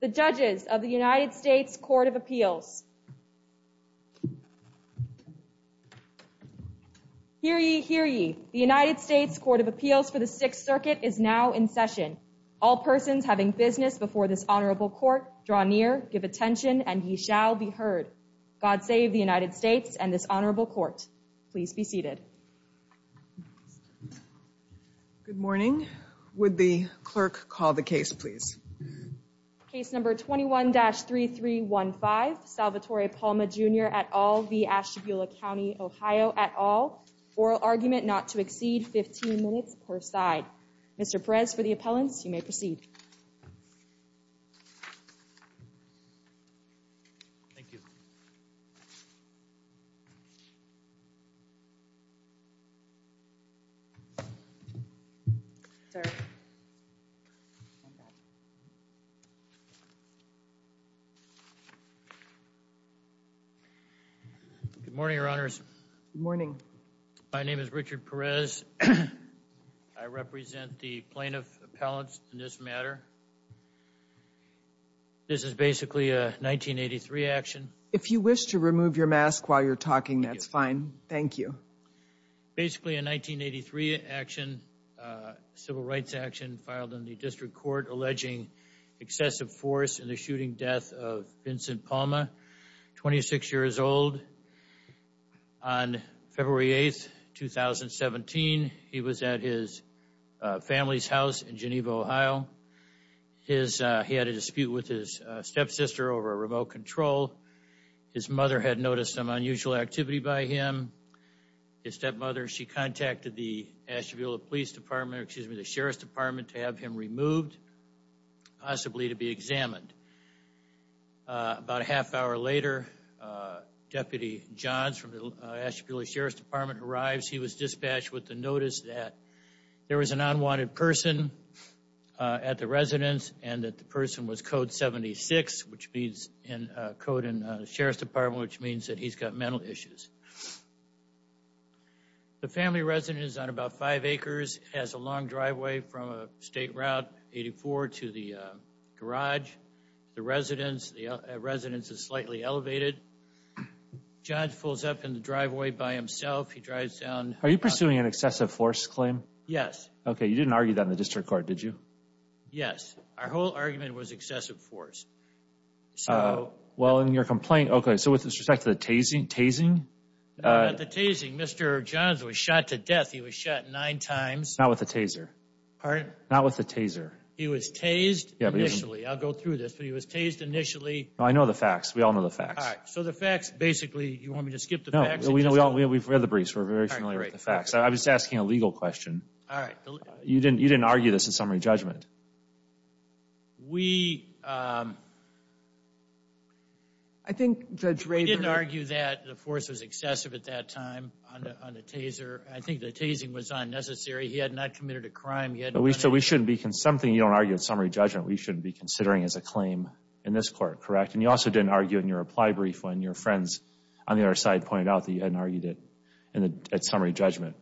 The Judges of the United States Court of Appeals Hear ye, hear ye. The United States Court of Appeals for the Sixth Circuit is now in session. All persons having business before this Honorable Court, draw near, give attention, and ye shall be heard. God save the United States and this Honorable Court. Please be Good morning. Would the clerk call the case please? Case number 21-3315 Salvatore Palma Jr et al v. Ashtabula County Ohio et al. Oral argument not to exceed 15 minutes per side. Mr. Perez for the appellants, you may proceed. Good morning, Your Honors. Good morning. My name is Richard Perez. I represent the plaintiff appellants in this matter. This is basically a 1983 action. If you wish to remove your civil rights action filed in the district court alleging excessive force in the shooting death of Vincent Palma, 26 years old. On February 8th, 2017, he was at his family's house in Geneva, Ohio. He had a dispute with his stepsister over a remote control. His mother had noticed some Ashtabula Police Department, excuse me, the Sheriff's Department to have him removed, possibly to be examined. About a half hour later, Deputy Johns from the Ashtabula Sheriff's Department arrives. He was dispatched with the notice that there was an unwanted person at the residence and that the person was code 76, which means code in the Sheriff's Department, which means that he's got mental issues. The family residence on about five acres has a long driveway from a state route 84 to the garage. The residence is slightly elevated. Johns pulls up in the driveway by himself. He drives down. Are you pursuing an excessive force claim? Yes. Okay, you didn't argue that in the district court, did you? Yes. Our whole argument was excessive force. Well, in your complaint, okay, so with respect to the tasing. The tasing, Mr. Johns was shot to death. He was shot nine times. Not with a taser. Pardon? Not with a taser. He was tased initially. I'll go through this, but he was tased initially. I know the facts. We all know the facts. All right, so the facts basically, you want me to skip the facts? No, we've read the briefs. We're very familiar with the facts. I'm just asking a legal question. All right. You didn't argue this in the case? We didn't argue that the force was excessive at that time on the taser. I think the tasing was unnecessary. He had not committed a crime. So we shouldn't be, something you don't argue in summary judgment, we shouldn't be considering as a claim in this court, correct? And you also didn't argue in your reply brief when your friends on the other side pointed out that you hadn't argued it at summary judgment.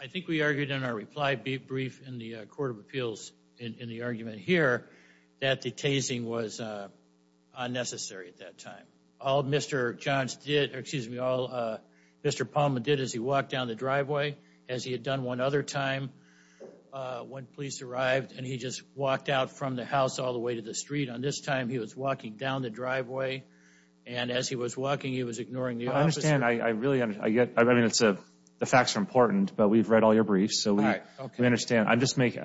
I think we argued in our reply brief in the Court of Appeals in the argument here that the tasing was unnecessary at that time. All Mr. Palma did is he walked down the driveway, as he had done one other time when police arrived, and he just walked out from the house all the way to the street. On this time, he was walking down the driveway. And as he was walking, he was ignoring the officer. I understand. I really, I get, I mean, it's a, the facts are important, but we've read all your briefs, so we understand. I just make,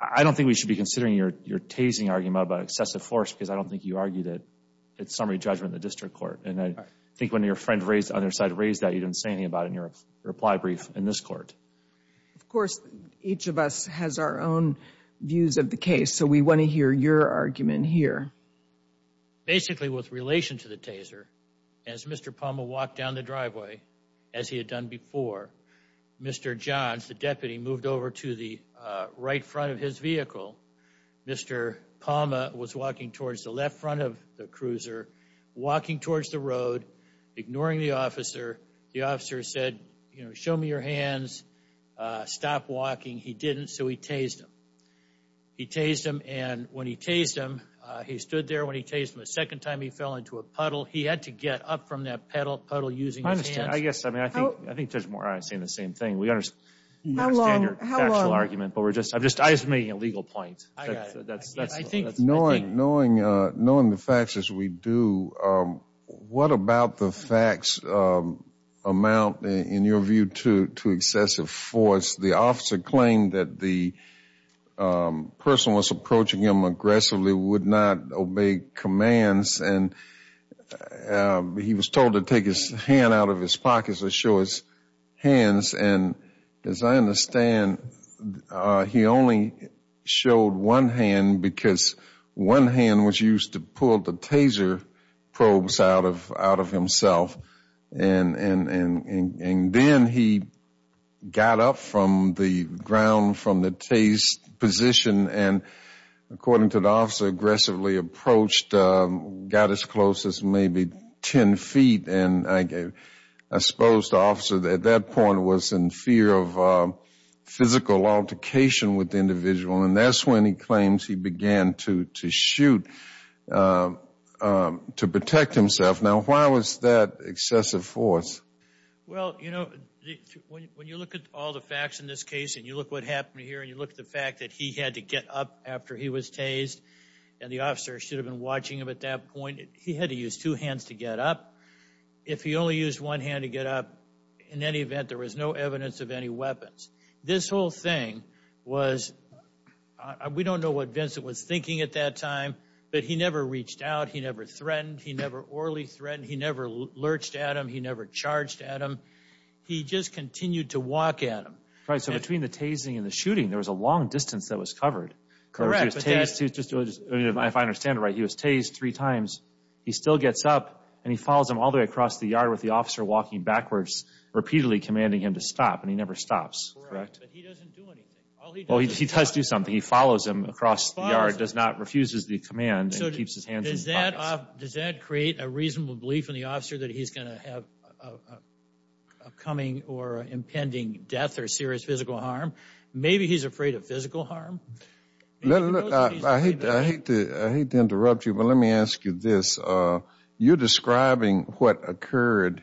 I don't think we should be considering your, your tasing argument about excessive force, because I don't think you argued it at summary judgment in the district court. And I think when your friend raised, on their side raised that, you didn't say anything about it in your reply brief in this court. Of course, each of us has our own views of the case, so we want to hear your argument here. Basically, with relation to the taser, as Mr. Palma walked down the driveway, as he had done before, Mr. Johns, the deputy, moved over to the right front of his vehicle. Mr. Palma was walking towards the left front of the cruiser, walking towards the road, ignoring the officer. The officer said, you know, show me your hands, stop walking. He didn't, so he tased him. He tased him, and when he tased him, he stood there when he tased him. The second time, he fell into a puddle. He had to get up from that puddle using his hands. I understand. I guess, I mean, I think, I think Judge Moran is saying the same thing. We understand your factual argument, but we're just, I'm just, I'm just making a legal point. Knowing, knowing, knowing the facts as we do, what about the facts amount, in your view, to, to excessive force? The officer claimed that the person was approaching him and he was told to take his hand out of his pocket to show his hands. And as I understand, he only showed one hand because one hand was used to pull the taser probes out of, out of himself. And, and, and, and then he got up from the ground from the tased position and, according to the officer, aggressively approached, got as close as maybe 10 feet, and I gave, I supposed the officer at that point was in fear of physical altercation with the individual. And that's when he claims he began to, to shoot to protect himself. Now, why was that excessive force? Well, you know, when you look at all the facts in this case, and you look what happened here, and you look at the fact that he had to get up after he was tased, and the officer should have been watching him at that point, he had to use two hands to get up. If he only used one hand to get up, in any event, there was no evidence of any weapons. This whole thing was, we don't know what Vincent was thinking at that time, but he never reached out, he never threatened, he never orally threatened, he never lurched at him, he never charged at him. He just continued to walk at him. Right, so between the tasing and the shooting, there was a long distance that was covered. Correct. If I understand it right, he was tased three times, he still gets up, and he follows him all the way across the yard with the officer walking backwards, repeatedly commanding him to stop, and he never stops. Correct. But he doesn't do anything. Well, he does do something. He follows him across the yard, does not, refuses the command, and keeps his hands in his pockets. Does that create a reasonable belief in the officer that he's going to have a coming or impending death or serious physical harm? Maybe he's afraid of physical harm. I hate to interrupt you, but let me ask you this. You're describing what occurred,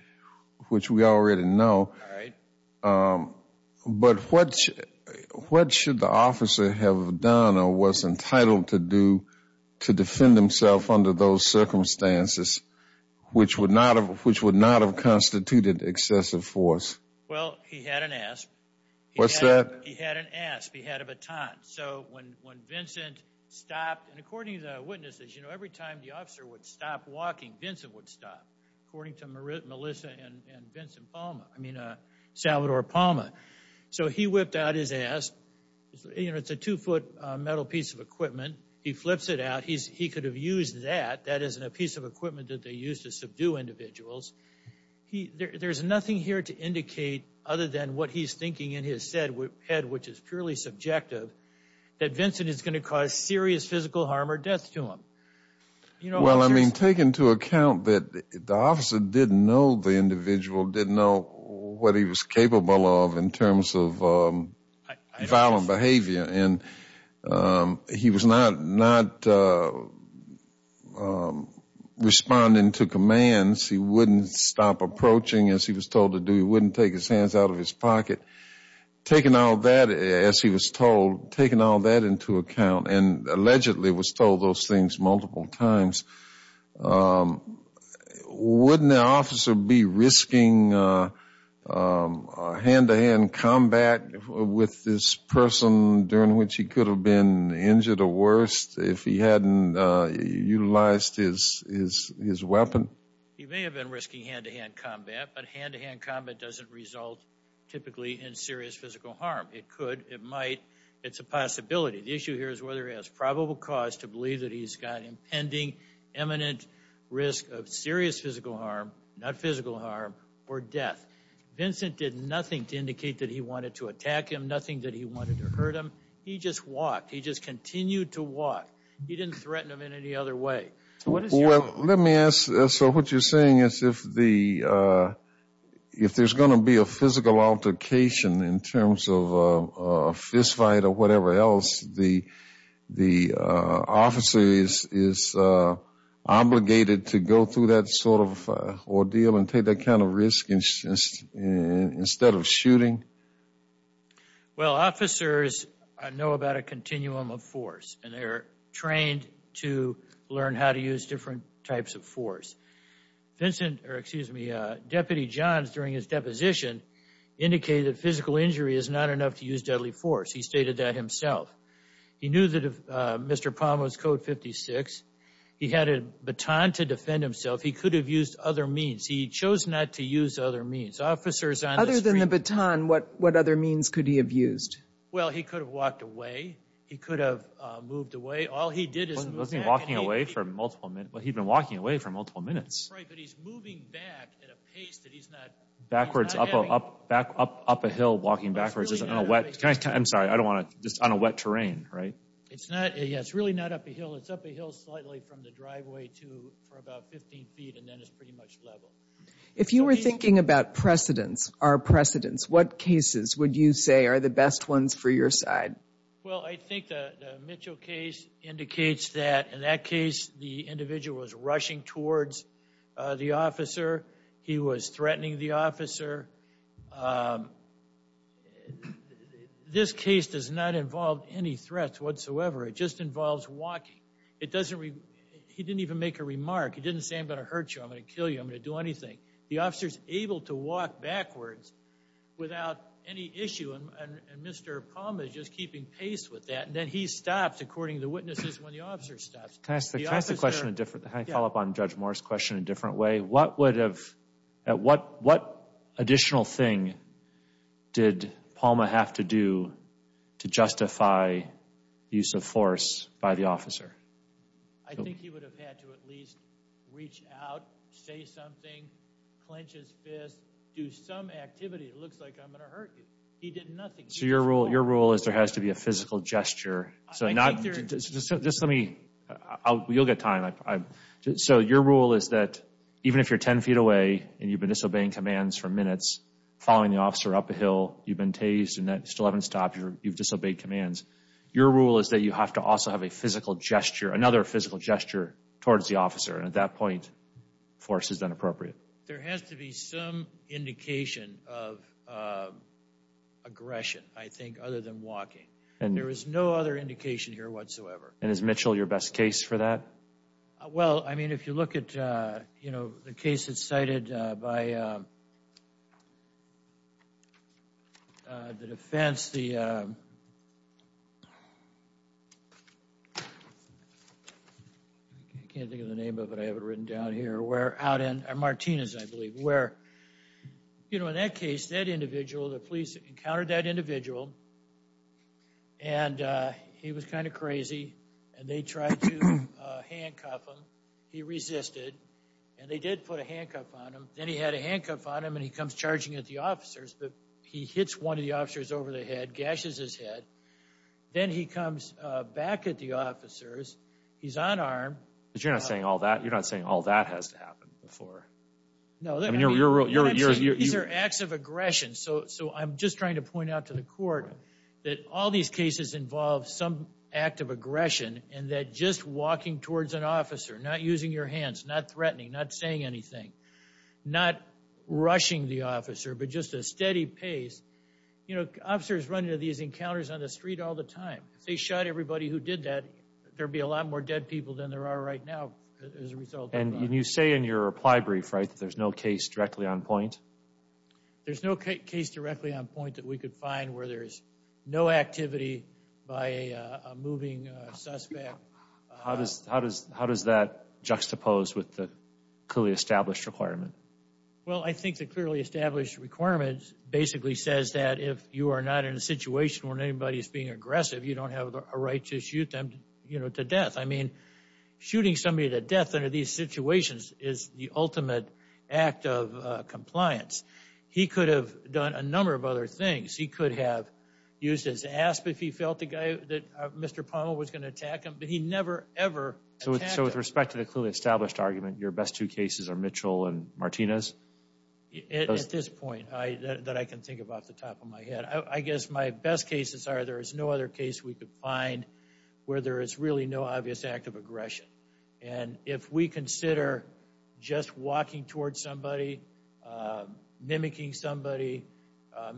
which we already know, but what should the officer have done or was entitled to do to defend himself under those circumstances, which would not have constituted excessive force? Well, he had an ASP. What's that? He had an ASP. He had a baton. So when Vincent stopped, and according to the witnesses, you know, every time the officer would stop walking, Vincent would stop, according to Melissa and Vincent Palma, I mean, Salvador Palma. So he whipped out his ASP. You know, it's a two-foot metal piece of equipment. He flips it out. He could have used that. That isn't a piece of equipment that they use to subdue individuals. There's nothing here to indicate other than what he's thinking in his head, which is purely subjective, that Vincent is going to cause serious physical harm or death to him. Well, I mean, take into account that the officer didn't know the He was not responding to commands. He wouldn't stop approaching, as he was told to do. He wouldn't take his hands out of his pocket. Taking all that, as he was told, taking all that into account, and allegedly was told those things multiple times, wouldn't the officer be risking a hand-to-hand combat with this person during which he could have been injured or worst if he hadn't utilized his weapon? He may have been risking hand-to-hand combat, but hand-to-hand combat doesn't result typically in serious physical harm. It could. It might. It's a possibility. The issue here is whether he has probable cause to believe that he's got impending, imminent risk of serious physical harm, not physical harm, or death. Vincent did nothing to indicate that he wanted to attack him, nothing that he wanted to hurt him. He just walked. He just continued to walk. He didn't threaten him in any other way. Well, let me ask. So what you're saying is if there's going to be a physical altercation in terms of a fistfight or whatever else, the officer is obligated to go through that sort of ordeal and take that kind of risk instead of shooting? Well, officers know about a continuum of force, and they're trained to learn how to use different types of force. Deputy Johns, during his deposition, indicated that physical injury is not enough to use deadly force. He stated that himself. He knew that if Mr. Palm was code 56, he had a baton to defend himself. He could have used other means. He chose not to use other means. Officers on the street... Other than the baton, what other means could he have used? Well, he could have walked away. He could have moved away. All he did is... Wasn't he walking away for multiple minutes? Well, he'd been walking away for multiple minutes. Right, but he's moving back at a pace that he's not... Backwards, up a hill, walking backwards on a wet... Can I... I'm sorry. I don't want to... Just on a wet terrain, right? It's not... Yeah, it's really not up a hill. It's up a hill slightly from the driveway to for about 15 feet, and then it's pretty much level. If you were thinking about precedents, our precedents, what cases would you say are the best ones for your side? Well, I think the Mitchell case indicates that in that case, the individual was rushing towards the officer. He was threatening the officer. This case does not involve any threats whatsoever. It just involves walking. It doesn't... He didn't even make a remark. He didn't say, I'm going to hurt you. I'm going to kill you. I'm going to do anything. The officer's able to walk backwards without any issue, and Mr. Palma is just keeping pace with that, and then he stops, according to the witnesses, when the officer stops. Can I ask a question of different... Can I follow up on Judge Moore's question in a different way? What would have... What additional thing did Palma have to do to justify use of force by the officer? I think he would have had to at least reach out, say something, clinch his fist, do some activity. It looks like I'm going to hurt you. He did nothing. So your rule is there has to be a physical gesture, so not... Just let me... You'll get time. So your rule is that even if you're 10 feet away, and you've been disobeying commands for minutes, following the officer up a hill, you've been tased, and you still haven't stopped, you've disobeyed commands. Your rule is that you have to also have a physical gesture, another physical gesture towards the officer, and at that point, force is inappropriate. There has to be some indication of aggression, I think, other than walking, and there is no other indication here whatsoever. And is Mitchell your best case for that? Well, I mean, if you look at, you know, the case that's cited by the defense, the... I can't think of the name of it. I have it written down here. Out in Martinez, I believe, where, you know, in that case, that individual, the police encountered that individual, and he was kind of crazy, and they tried to handcuff him. He resisted, and they did put a handcuff on him. Then he had a handcuff on him, and he comes charging at the officers, but he hits one of the officers over the head, gashes his head. Then he comes back at the officers. He's unarmed. You're not saying all that. You're not saying all that has to happen before. No. These are acts of aggression. So I'm just trying to point out to the court that all these cases involve some act of aggression, and that just walking towards an officer, not using your hands, not threatening, not saying anything, not rushing the officer, but just a steady pace. You know, officers run into these encounters on the street all the time. If they shot everybody who did that, there'd be a lot more dead people than there are right now as a result. And you say in your reply brief, right, that there's no case directly on point? There's no case directly on point that we could find where there's no activity by a moving suspect. How does that juxtapose with the clearly established requirement? Well, I think the clearly established requirement basically says that if you are not in a right to shoot them, you know, to death. I mean, shooting somebody to death under these situations is the ultimate act of compliance. He could have done a number of other things. He could have used his asp if he felt the guy that Mr. Pommel was going to attack him, but he never, ever attacked him. So with respect to the clearly established argument, your best two cases are Mitchell and Martinez? At this point, that I can think of off the top of my head. I guess my best cases are there is no other case we could find where there is really no obvious act of aggression. And if we consider just walking towards somebody, mimicking somebody.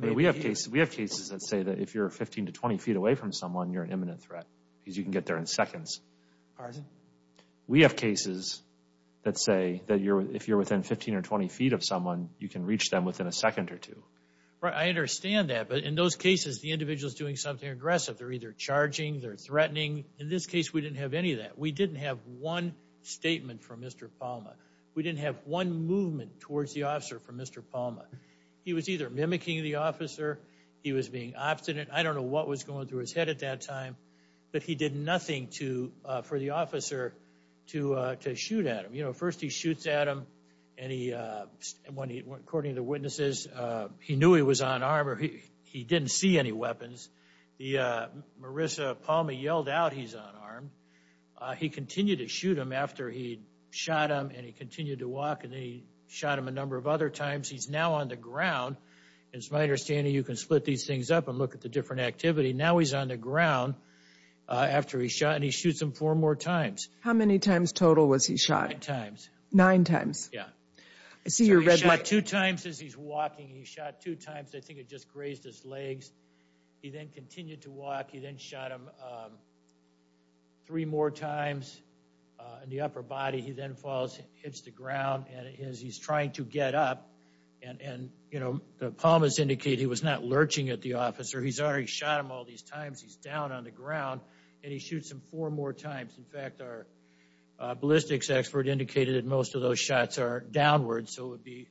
We have cases that say that if you're 15 to 20 feet away from someone, you're an imminent threat because you can get there in seconds. We have cases that say that if you're within 15 or 20 feet of someone, you can reach them within a second or two. Right. I understand that. But in those cases, the individual is doing something aggressive. They're either charging, they're threatening. In this case, we didn't have any of that. We didn't have one statement from Mr. Palma. We didn't have one movement towards the officer from Mr. Palma. He was either mimicking the officer. He was being obstinate. I don't know what was going through his head at that time, but he did nothing for the officer to shoot at him. First, he shoots at him. According to the witnesses, he knew he was unarmed or he didn't see any weapons. Marissa Palma yelled out he's unarmed. He continued to shoot him after he shot him and he continued to walk and he shot him a number of other times. He's now on the ground. It's my understanding you can split these things up and look at the different activity. Now he's on the ground after he shot and he shoots him four more times. How many times total was he shot? Nine times. He shot two times as he's walking. He shot two times. I think it just grazed his legs. He then continued to walk. He then shot him three more times in the upper body. He then falls, hits the ground and as he's trying to get up and the Palmas indicated he was not lurching at the officer. He's already shot him all these times. He's down on the ground and he shoots him four more times. In fact, our ballistics expert indicated that most of those shots are downward so it would be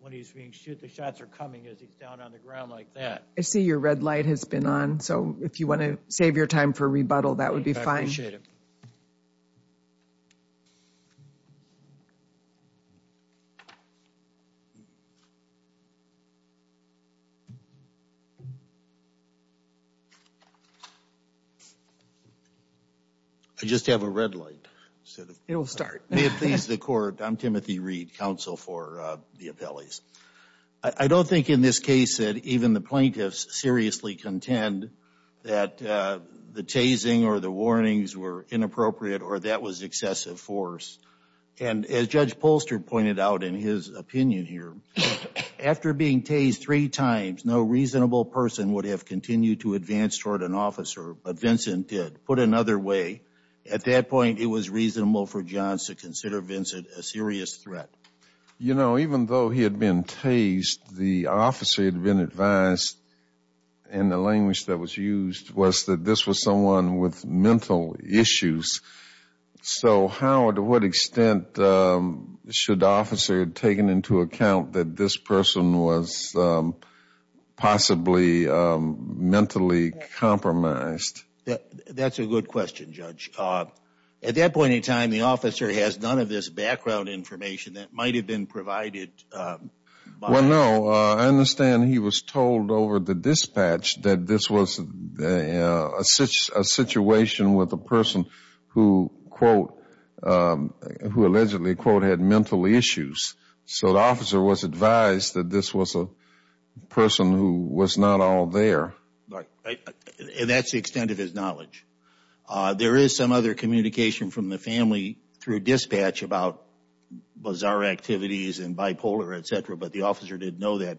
when he's being shot. The shots are coming as he's down on the ground like that. I see your red light has been on so if you want to save your time for rebuttal that would be fine. I just have a red light. It will start. May it please the court. I'm Timothy Reed, counsel for the appellees. I don't think in this case that even the plaintiffs seriously contend that the tasing or the warnings were inappropriate or that was excessive force. And as Judge Polster pointed out in his opinion here, after being tased three times, no reasonable person would have continued to advance toward an officer but Vincent did. Put another way, at that point it was reasonable for Johns to consider Vincent a serious threat. You know, even though he had been tased, the officer had been advised in the language that was used was that this was someone with mental issues. So, Howard, to what extent should the officer have taken into account that this person was possibly mentally compromised? That's a good question, Judge. At that point in time, the officer has none of this background information that might have been provided. Well, no. I understand he was told over the dispatch that this was a situation with a person who allegedly, quote, had mental issues. So the officer was advised that this was a person who was not all there. And that's the extent of his knowledge. There is some other communication from the family through dispatch about bizarre activities and bipolar, et cetera, but the officer didn't know that.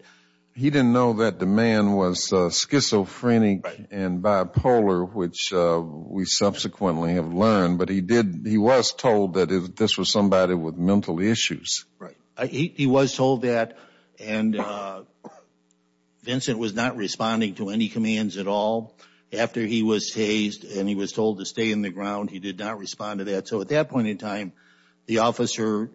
He didn't know that the man was schizophrenic and bipolar, which we subsequently have learned. But he was told that this was somebody with mental issues. Right. He was told that. And he was told to stay in the ground. He did not respond to that. So at that point in time, the officer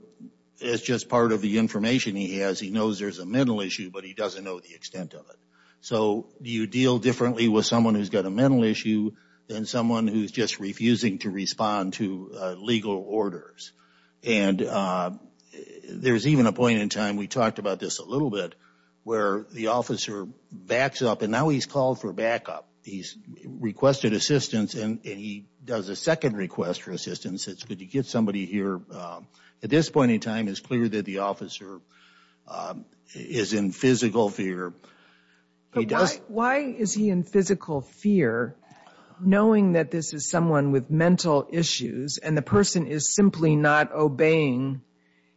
is just part of the information he has. He knows there's a mental issue, but he doesn't know the extent of it. So you deal differently with someone who's got a mental issue than someone who's just refusing to respond to legal orders. And there's even a point in time, we talked about this a little bit, where the officer backs up and now he's called for backup. He's requested assistance and he does a second request for assistance. It's, could you get somebody here? At this point in time, it's clear that the officer is in physical fear. But why is he in physical fear, knowing that this is someone with mental issues and the person is simply not obeying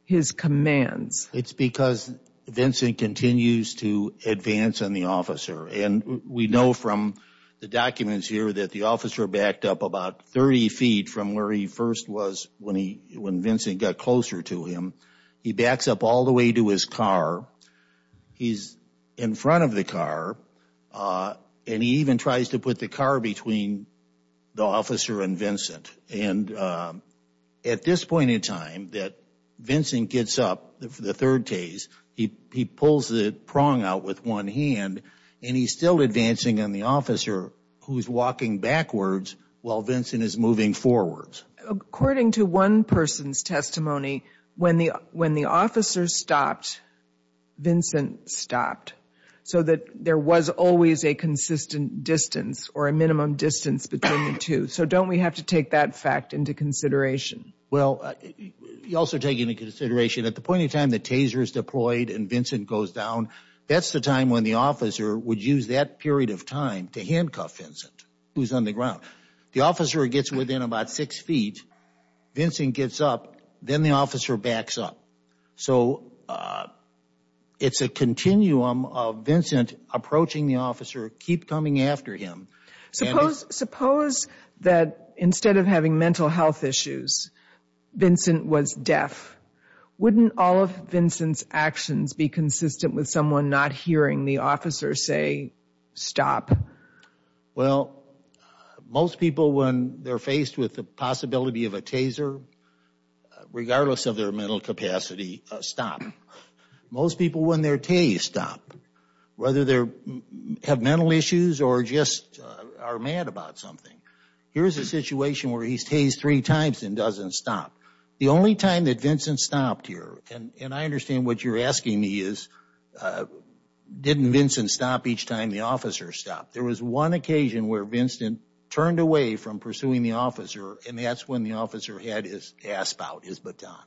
his commands? It's because Vincent continues to advance on the officer. And we know from the documents here that the officer backed up about 30 feet from where he first was when he, when Vincent got closer to him. He backs up all the way to his car. He's in front of the car. And he even tries to put the car between the officer and Vincent. And at this point in time that Vincent gets up, the third case, he pulls the prong out with one hand and he's still advancing on the officer who's walking backwards while Vincent is moving forwards. According to one person's testimony, when the officer stopped, Vincent stopped. So that there was always a consistent distance or a minimum distance between the two. So don't we have to take that fact into consideration? Well, you also take into consideration at the point in time the taser is deployed and Vincent goes down, that's the time when the officer would use that period of time to handcuff Vincent, who's on the ground. The officer gets within about six feet, Vincent gets up, then the officer backs up. So it's a continuum of Vincent approaching the officer, keep coming after him. Suppose, suppose that instead of having mental health issues, Vincent was deaf. Wouldn't all of Vincent's actions be consistent with someone not hearing the officer say, stop? Well, most people when they're faced with the possibility of a taser, regardless of their mental capacity, stop. Most people when they're tased, stop. Whether they have mental issues or just are mad about something. Here's a situation where he's tased three times and doesn't stop. The only time that Vincent stopped here, and I understand what you're asking me is, didn't Vincent stop each time the officer stopped? There was one occasion where Vincent turned away from pursuing the officer and that's when the officer had his asp out, his baton.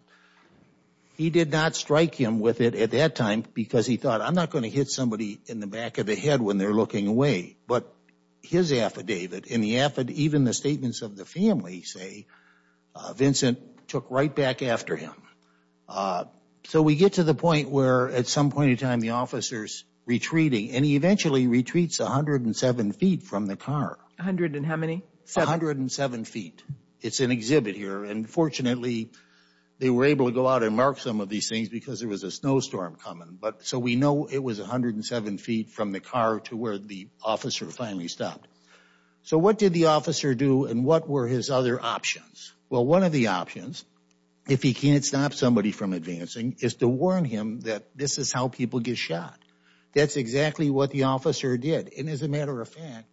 He did not strike him with it at that time because he thought, I'm not going to hit somebody in the back of the head when they're looking away. But his affidavit, in the affidavit, even the statements of the family say, Vincent took right back after him. So we get to the point where at some point in time the officer's retreating and he eventually retreats 107 feet from the car. 107 feet. It's an exhibit here and fortunately they were able to go out and mark some of these things because there was a snowstorm coming. But so we know it was 107 feet from the car to where the officer finally stopped. So what did the officer do and what were his other options? Well, one of the options, if he can't stop somebody from advancing, is to warn him that this is how people get shot. That's exactly what the officer did and as a matter of fact,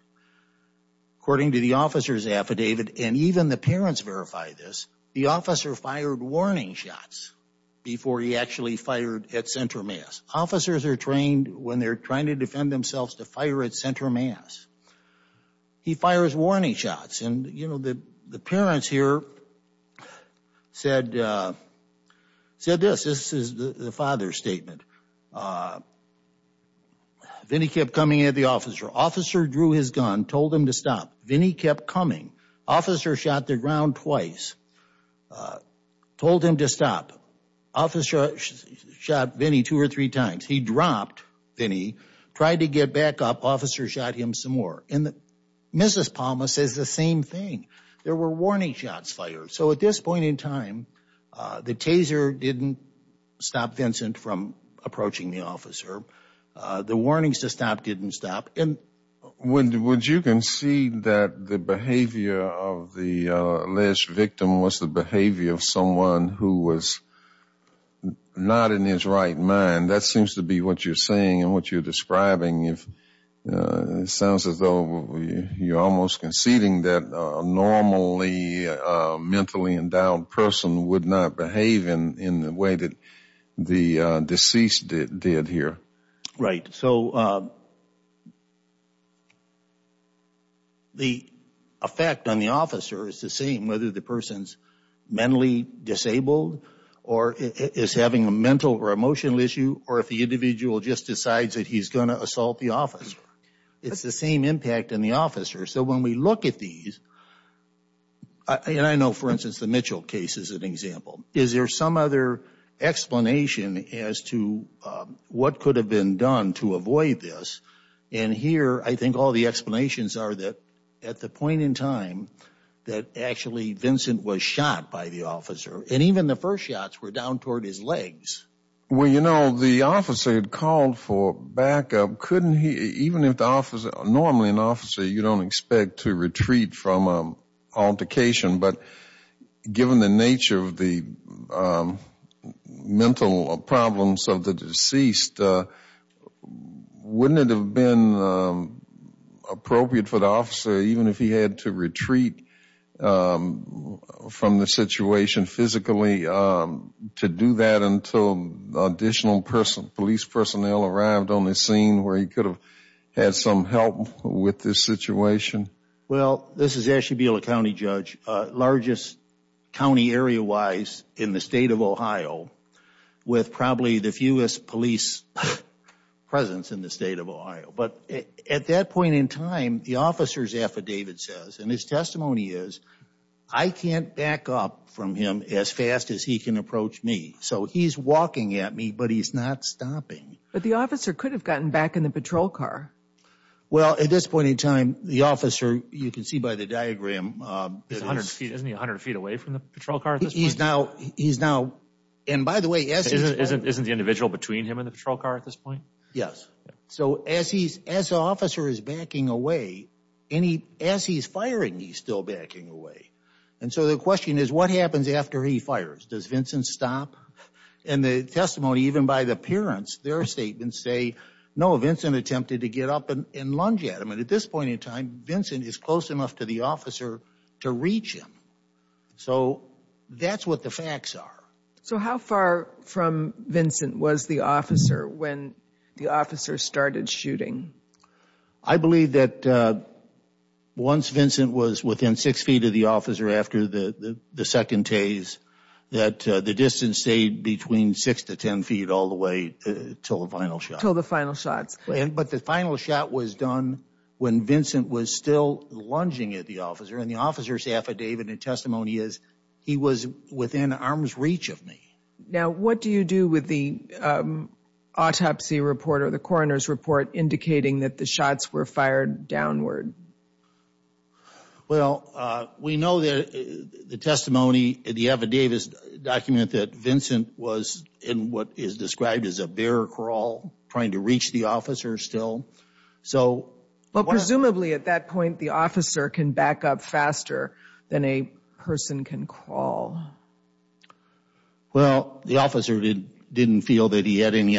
according to the officer's affidavit and even the parents verify this, the officer fired warning shots before he actually fired at center mass. Officers are trained when they're trying to defend themselves to fire at center mass. He fires warning shots and you know, the parents here said this. This is the father's statement. Vinny kept coming at the officer. Officer drew his gun, told him to stop. Vinny kept coming. Officer shot the ground twice, told him to stop. Officer shot Vinny two or three times. He dropped Vinny, tried to get back up. Officer shot him some more. And Mrs. Palma says the same thing. There were warning shots fired. So at this point in time, the taser didn't stop Vincent from approaching the officer. The warnings to stop didn't stop. Would you concede that the behavior of the alleged victim was the behavior of someone who was not in his right mind? That seems to be what you're saying and what you're describing. It sounds as though you're almost conceding that a normally mentally endowed person would not behave in the way that the deceased did here. Right. So the effect on the officer is the same, whether the person's mentally disabled or is having a mental or emotional issue or if the the officer. It's the same impact on the officer. So when we look at these, and I know, for instance, the Mitchell case is an example. Is there some other explanation as to what could have been done to avoid this? And here, I think all the explanations are that at the point in time that actually Vincent was shot by the officer and even the first were down toward his legs. Well, you know, the officer had called for backup. Couldn't he, even if the officer, normally an officer, you don't expect to retreat from an altercation. But given the nature of the mental problems of the deceased, wouldn't it have been appropriate for the officer, even if he had to retreat from the situation physically, to do that until additional police personnel arrived on the scene where he could have had some help with this situation? Well, this is Ashley Biela County Judge, largest county area wise in the state of Ohio, with probably the fewest police presence in the state of Ohio. But at that point in time, the officer's affidavit says, and his testimony is, I can't back up from him as fast as he can approach me. So he's walking at me, but he's not stopping. But the officer could have gotten back in the patrol car. Well, at this point in time, the officer, you can see by the diagram. Isn't he 100 feet away from the patrol car? He's now, and by the way, isn't the individual between him and the patrol car at this point? Yes. So as the officer is backing away, as he's firing, he's still backing away. And so the question is, what happens after he fires? Does Vincent stop? And the testimony, even by the parents, their statements say, no, Vincent attempted to get up and lunge at him. And at this point in time, Vincent is close enough to the officer to reach him. So that's what the officer started shooting. I believe that once Vincent was within six feet of the officer, after the second tase, that the distance stayed between six to 10 feet all the way till the final shot. But the final shot was done when Vincent was still lunging at the officer. And the officer's affidavit and testimony is, he was within arm's reach of me. Now, what do you do with the autopsy report or the coroner's report indicating that the shots were fired downward? Well, we know that the testimony, the affidavit document, that Vincent was in what is described as a bear crawl, trying to reach the officer still. So presumably at that point, the officer can back up faster than a person can crawl. Well, the officer didn't feel that he had any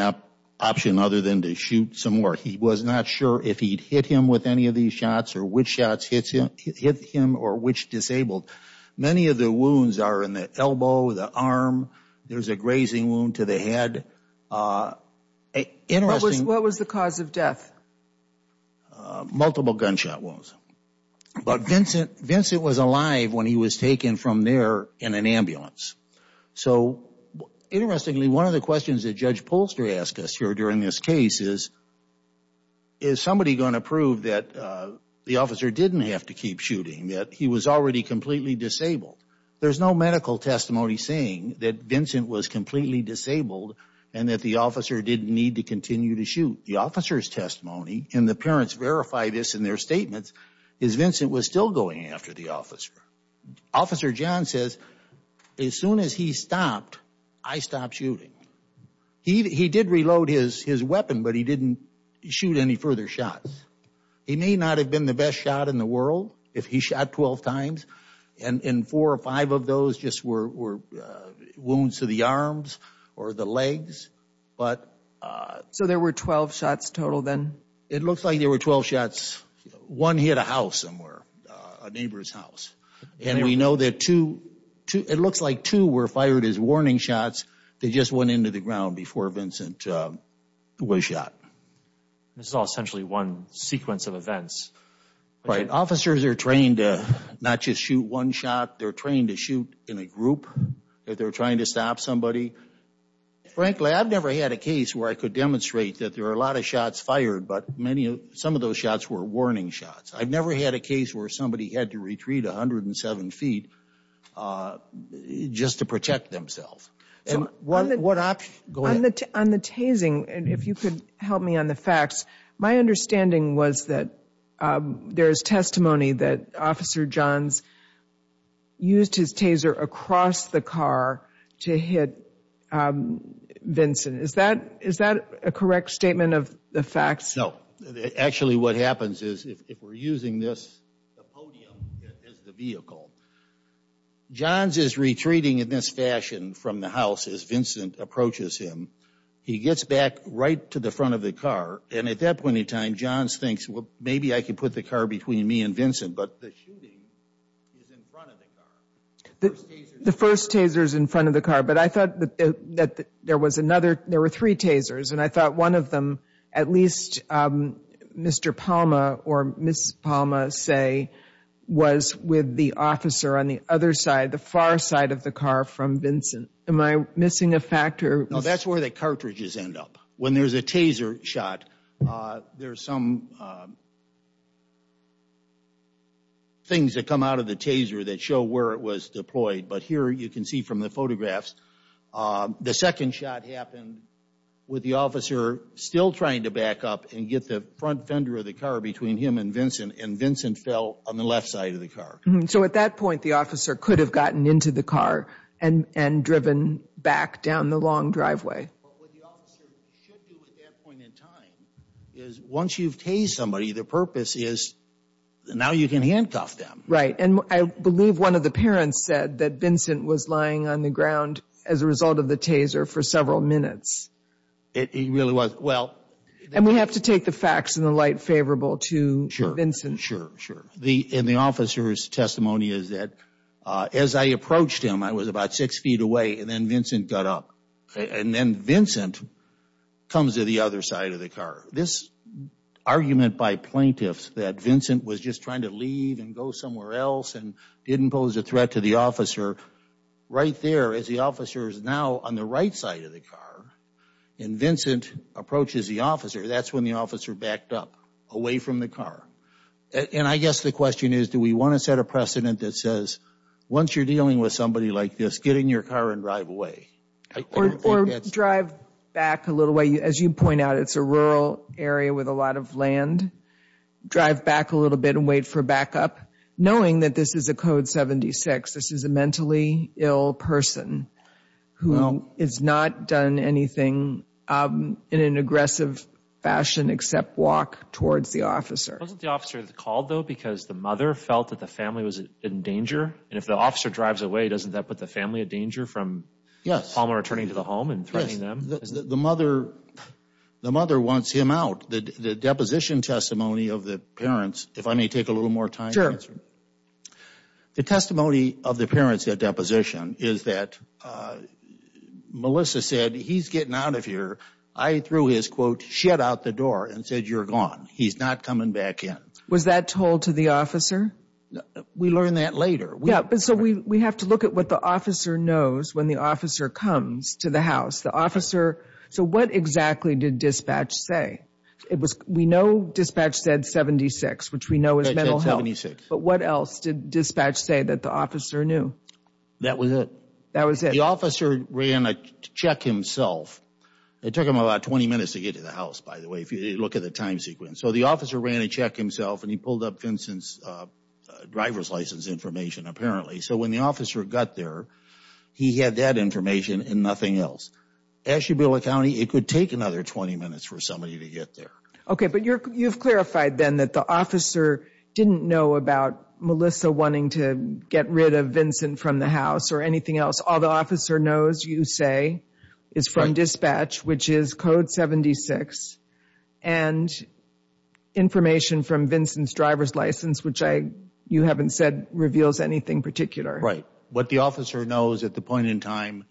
option other than to shoot some more. He was not sure if he'd hit him with any of these shots or which shots hit him or which disabled. Many of the wounds are in the elbow, the arm. There's a grazing wound to the head. Interesting. What was the cause of death? Multiple gunshot wounds. But Vincent was alive when he was taken from there in an ambulance. So interestingly, one of the questions that Judge Polster asked us here during this case is, is somebody going to prove that the officer didn't have to keep shooting, that he was already completely disabled? There's no medical testimony saying that Vincent was completely disabled and that the officer didn't need to continue to shoot. The officer's testimony, and the parents verify this in their statements, is Vincent was still going after the officer. Officer John says, as soon as he stopped, I stopped shooting. He did reload his weapon, but he didn't shoot any further shots. He may not have been the best shot in the world if he shot 12 times and four or five of those just were wounds to the arms or the legs. So there were 12 shots total then? It looks like there were 12 shots. One hit a house somewhere, a neighbor's house. And we know that two, it looks like two were fired as warning shots that just went into the ground before Vincent was shot. This is all essentially one sequence of events. Right. Officers are trained to not just shoot one shot. They're trained to shoot in a group if they're trying to stop somebody. Frankly, I've never had a case where I could demonstrate that there are a lot of shots fired, but some of those shots were warning shots. I've never had a case where somebody had to retreat 107 feet just to protect themselves. What option? Go ahead. On the tasing, if you could help me on the facts, my understanding was that there is testimony that Officer Johns used his taser across the car to hit Vincent. Is that a correct statement of the facts? No. Actually, what happens is if we're using this podium as the vehicle, Johns is retreating in this fashion from the house as Vincent approaches him. He gets back right to the front of the car. And at that point in time, Johns thinks, well, maybe I could put the car between me and Vincent. But the shooting is in front of the car. The first taser is in front of the car. But I thought that there was another, there were three tasers. And I thought one of them, at least Mr. Palma or Ms. Palma say, was with the officer on the other side, the far side of the car from Vincent. Am I missing a fact? No, that's where the cartridges end up. When there's a taser shot, there's some things that come out of the taser that show where it was deployed. But here you can see the photographs. The second shot happened with the officer still trying to back up and get the front fender of the car between him and Vincent. And Vincent fell on the left side of the car. So at that point, the officer could have gotten into the car and driven back down the long driveway. But what the officer should do at that point in time is once you've tased somebody, the purpose is now you can handcuff them. Right. And I believe one of the parents said that Vincent was lying on the ground as a result of the taser for several minutes. It really was. Well. And we have to take the facts in the light favorable to Vincent. Sure, sure. And the officer's testimony is that as I approached him, I was about six feet away, and then Vincent got up. And then Vincent comes to the other side of the car. This didn't pose a threat to the officer. Right there, as the officer is now on the right side of the car, and Vincent approaches the officer, that's when the officer backed up away from the car. And I guess the question is, do we want to set a precedent that says, once you're dealing with somebody like this, get in your car and drive away? Or drive back a little way. As you point out, it's a rural area with a lot of land. Drive back a little bit and wait for backup. Knowing that this is a code 76, this is a mentally ill person who has not done anything in an aggressive fashion except walk towards the officer. Wasn't the officer called, though, because the mother felt that the family was in danger? And if the officer drives away, doesn't that put the family in danger from Palmer returning to the home and threatening them? The mother wants him out. The deposition testimony of the parents, if I may take a little more time to answer. The testimony of the parents at deposition is that Melissa said, he's getting out of here. I threw his, quote, shit out the door and said, you're gone. He's not coming back in. Was that told to the officer? We learn that later. So we have to look at what the officer knows when the officer comes to the house. So what exactly did dispatch say? We know dispatch said 76, which we know is mental health. But what else did dispatch say that the officer knew? That was it. The officer ran a check himself. It took him about 20 minutes to get to the house, by the way, if you look at the time sequence. So the officer ran a check himself and he pulled up Vincent's driver's license information, apparently. So when the officer got there, he had that information and nothing else. As you build a county, it could take another 20 minutes for somebody to get there. OK, but you've clarified then that the officer didn't know about Melissa wanting to get rid of Vincent from the house or anything else. All the officer knows, you say, is from dispatch, which is code 76 and information from Vincent's driver's license, which I, you haven't said, reveals anything particular. Right. What the officer knows at the point in time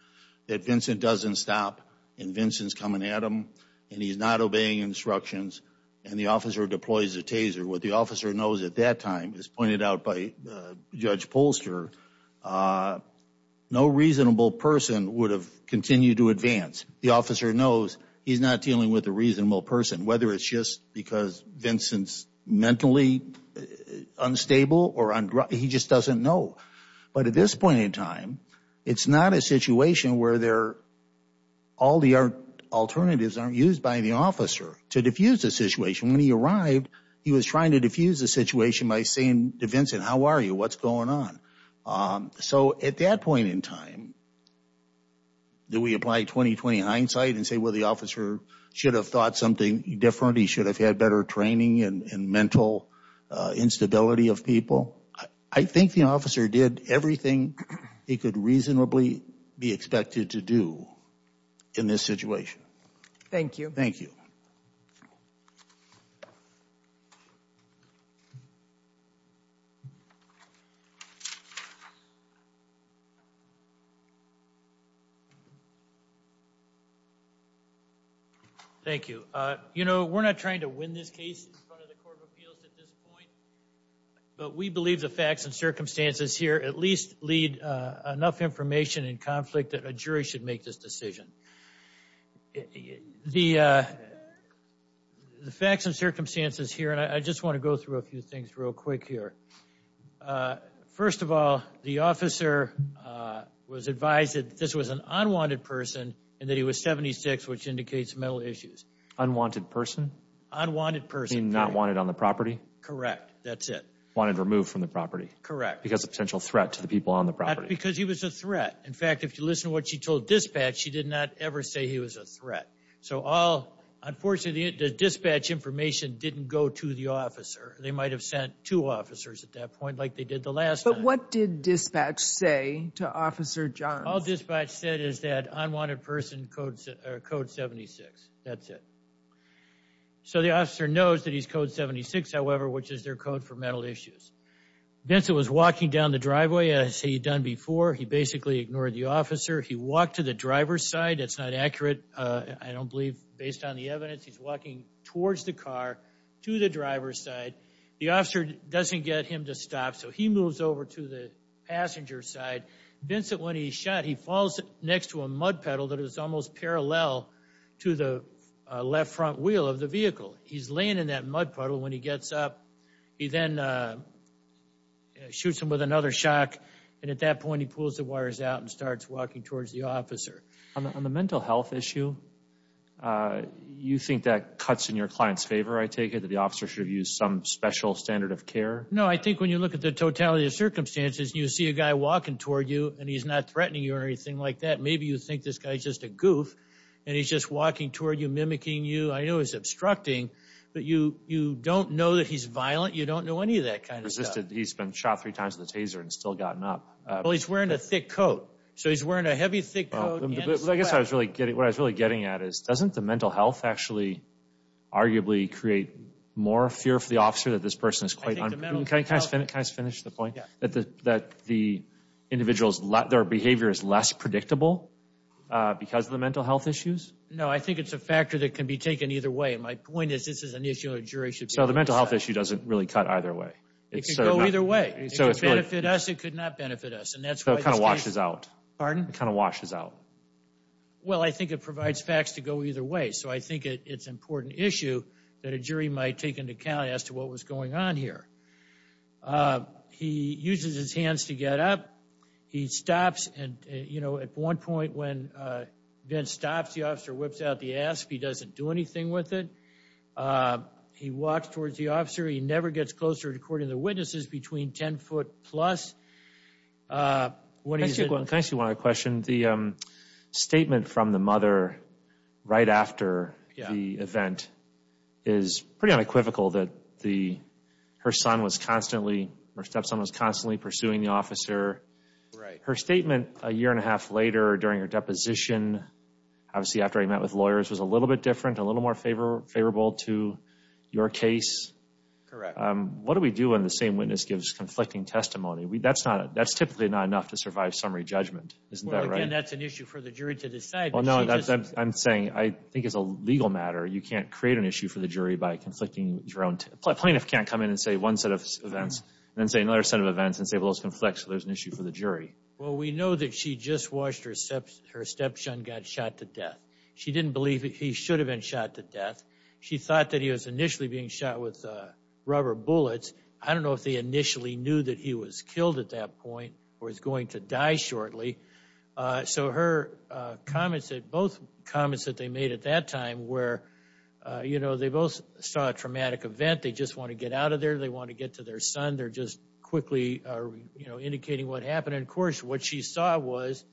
that Vincent doesn't stop and Vincent's coming at him and he's not obeying instructions and the officer deploys a taser, what the officer knows at that time, as pointed out by Judge Polster, no reasonable person would have continued to advance. The officer knows he's not dealing with a reasonable person, whether it's just Vincent's mentally unstable or he just doesn't know. But at this point in time, it's not a situation where all the alternatives aren't used by the officer to defuse the situation. When he arrived, he was trying to defuse the situation by saying to Vincent, how are you? What's going on? So at that point in time, do we apply 20-20 hindsight and say, the officer should have thought something different, he should have had better training and mental instability of people? I think the officer did everything he could reasonably be expected to do in this situation. Thank you. Thank you. Thank you. You know, we're not trying to win this case in front of the Court of Appeals at this point, but we believe the facts and circumstances here at least lead enough information in conflict that a jury should make this decision. The facts and circumstances here, and I just want to go through a few things real quick here. First of all, the officer was advised that this was an unwanted person and that he was 76, which indicates mental issues. Unwanted person? Unwanted person. Not wanted on the property? Correct. That's it. Wanted removed from the property? Correct. Because of potential threat to the people on the property? Because he was a threat. In fact, if you listen to what she told dispatch, she did not ever say he was a threat. So all, unfortunately, the dispatch information didn't go to the officer. They might have sent two officers at that point, like they did the last. But what did dispatch say to Officer Johns? All dispatch said is that unwanted person code 76. That's it. So the officer knows that he's code 76, however, which is their code for mental issues. Vincent was walking down the driveway as he'd done before. He basically ignored the officer. He walked to the driver's side. It's not accurate. I don't believe based on the evidence he's walking towards the car to the driver's side. The officer doesn't get him to stop. He moves over to the passenger side. Vincent, when he's shot, he falls next to a mud puddle that is almost parallel to the left front wheel of the vehicle. He's laying in that mud puddle. When he gets up, he then shoots him with another shock. At that point, he pulls the wires out and starts walking towards the officer. On the mental health issue, you think that cuts in your client's favor? I take it that the officer should have used some special standard of care? No. I think when you look at the totality of circumstances, you see a guy walking toward you, and he's not threatening you or anything like that. Maybe you think this guy's just a goof, and he's just walking toward you, mimicking you. I know it's obstructing, but you don't know that he's violent. You don't know any of that kind of stuff. He's been shot three times with a taser and still gotten up. Well, he's wearing a thick coat. So he's wearing a heavy, thick coat. I guess what I was really getting at is doesn't the mental health actually arguably create more fear for the officer that this person is quite... Can I just finish the point? That the individual's behavior is less predictable because of the mental health issues? No. I think it's a factor that can be taken either way. My point is this is an issue where a jury should be able to decide. So the mental health issue doesn't really cut either way? It can go either way. It could benefit us. It could not benefit us. And that's why... It kind of washes out. Pardon? It kind of washes out. Well, I think it provides facts to go either way. So I think it's an important issue that a jury might take into account as to what was going on here. He uses his hands to get up. He stops. And at one point when Vince stops, the officer whips out the ass. He doesn't do anything with it. He walks towards the officer. He never gets closer, according to the witnesses, between 10 foot plus. What do you think? Can I ask you one other question? The statement from the mother right after... Yeah. ...the event is pretty unequivocal that her stepson was constantly pursuing the officer. Right. Her statement a year and a half later during her deposition, obviously after he met with lawyers, was a little bit different, a little more favorable to your case. Correct. What do we do when the same witness gives conflicting testimony? That's typically not enough to survive summary judgment. Isn't that right? Well, again, that's an issue for the jury to decide. I'm saying I think it's a legal matter. You can't create an issue for the jury by conflicting your own... A plaintiff can't come in and say one set of events and then say another set of events and say, well, those conflicts, so there's an issue for the jury. Well, we know that she just watched her stepson got shot to death. She didn't believe that he should have been shot to death. She thought that he was initially being shot with rubber bullets. I don't know if they initially knew that he was killed at that point or was going to die shortly. So her comments, both comments that they made at that time were, you know, they both saw a traumatic event. They just want to get out of there. They want to get to their son. They're just quickly indicating what happened. And of course, what she saw was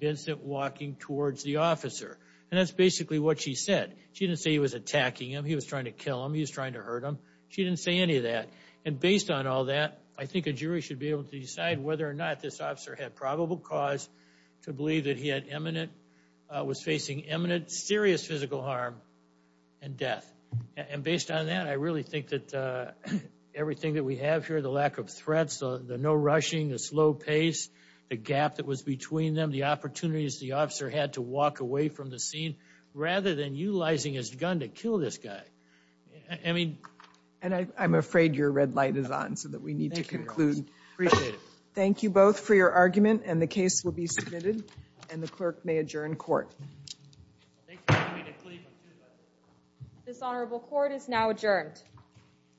Vincent walking towards the officer. And that's basically what she said. She didn't say he was attacking him. He was trying to kill him. He was trying to hurt him. She didn't say any of that. And based on all that, I think a jury should be able to decide whether or not this officer had probable cause to believe that he was facing imminent, serious physical harm and death. And based on that, I really think that everything that we have here, the lack of threats, the no rushing, the slow pace, the gap that was between them, the opportunities the officer had to walk away from the scene rather than utilizing his gun to kill this guy. I mean. And I'm afraid your red light is on so that we need to conclude. Appreciate it. Thank you both for your argument. And the case will be submitted and the clerk may adjourn court. Dishonorable court is now adjourned.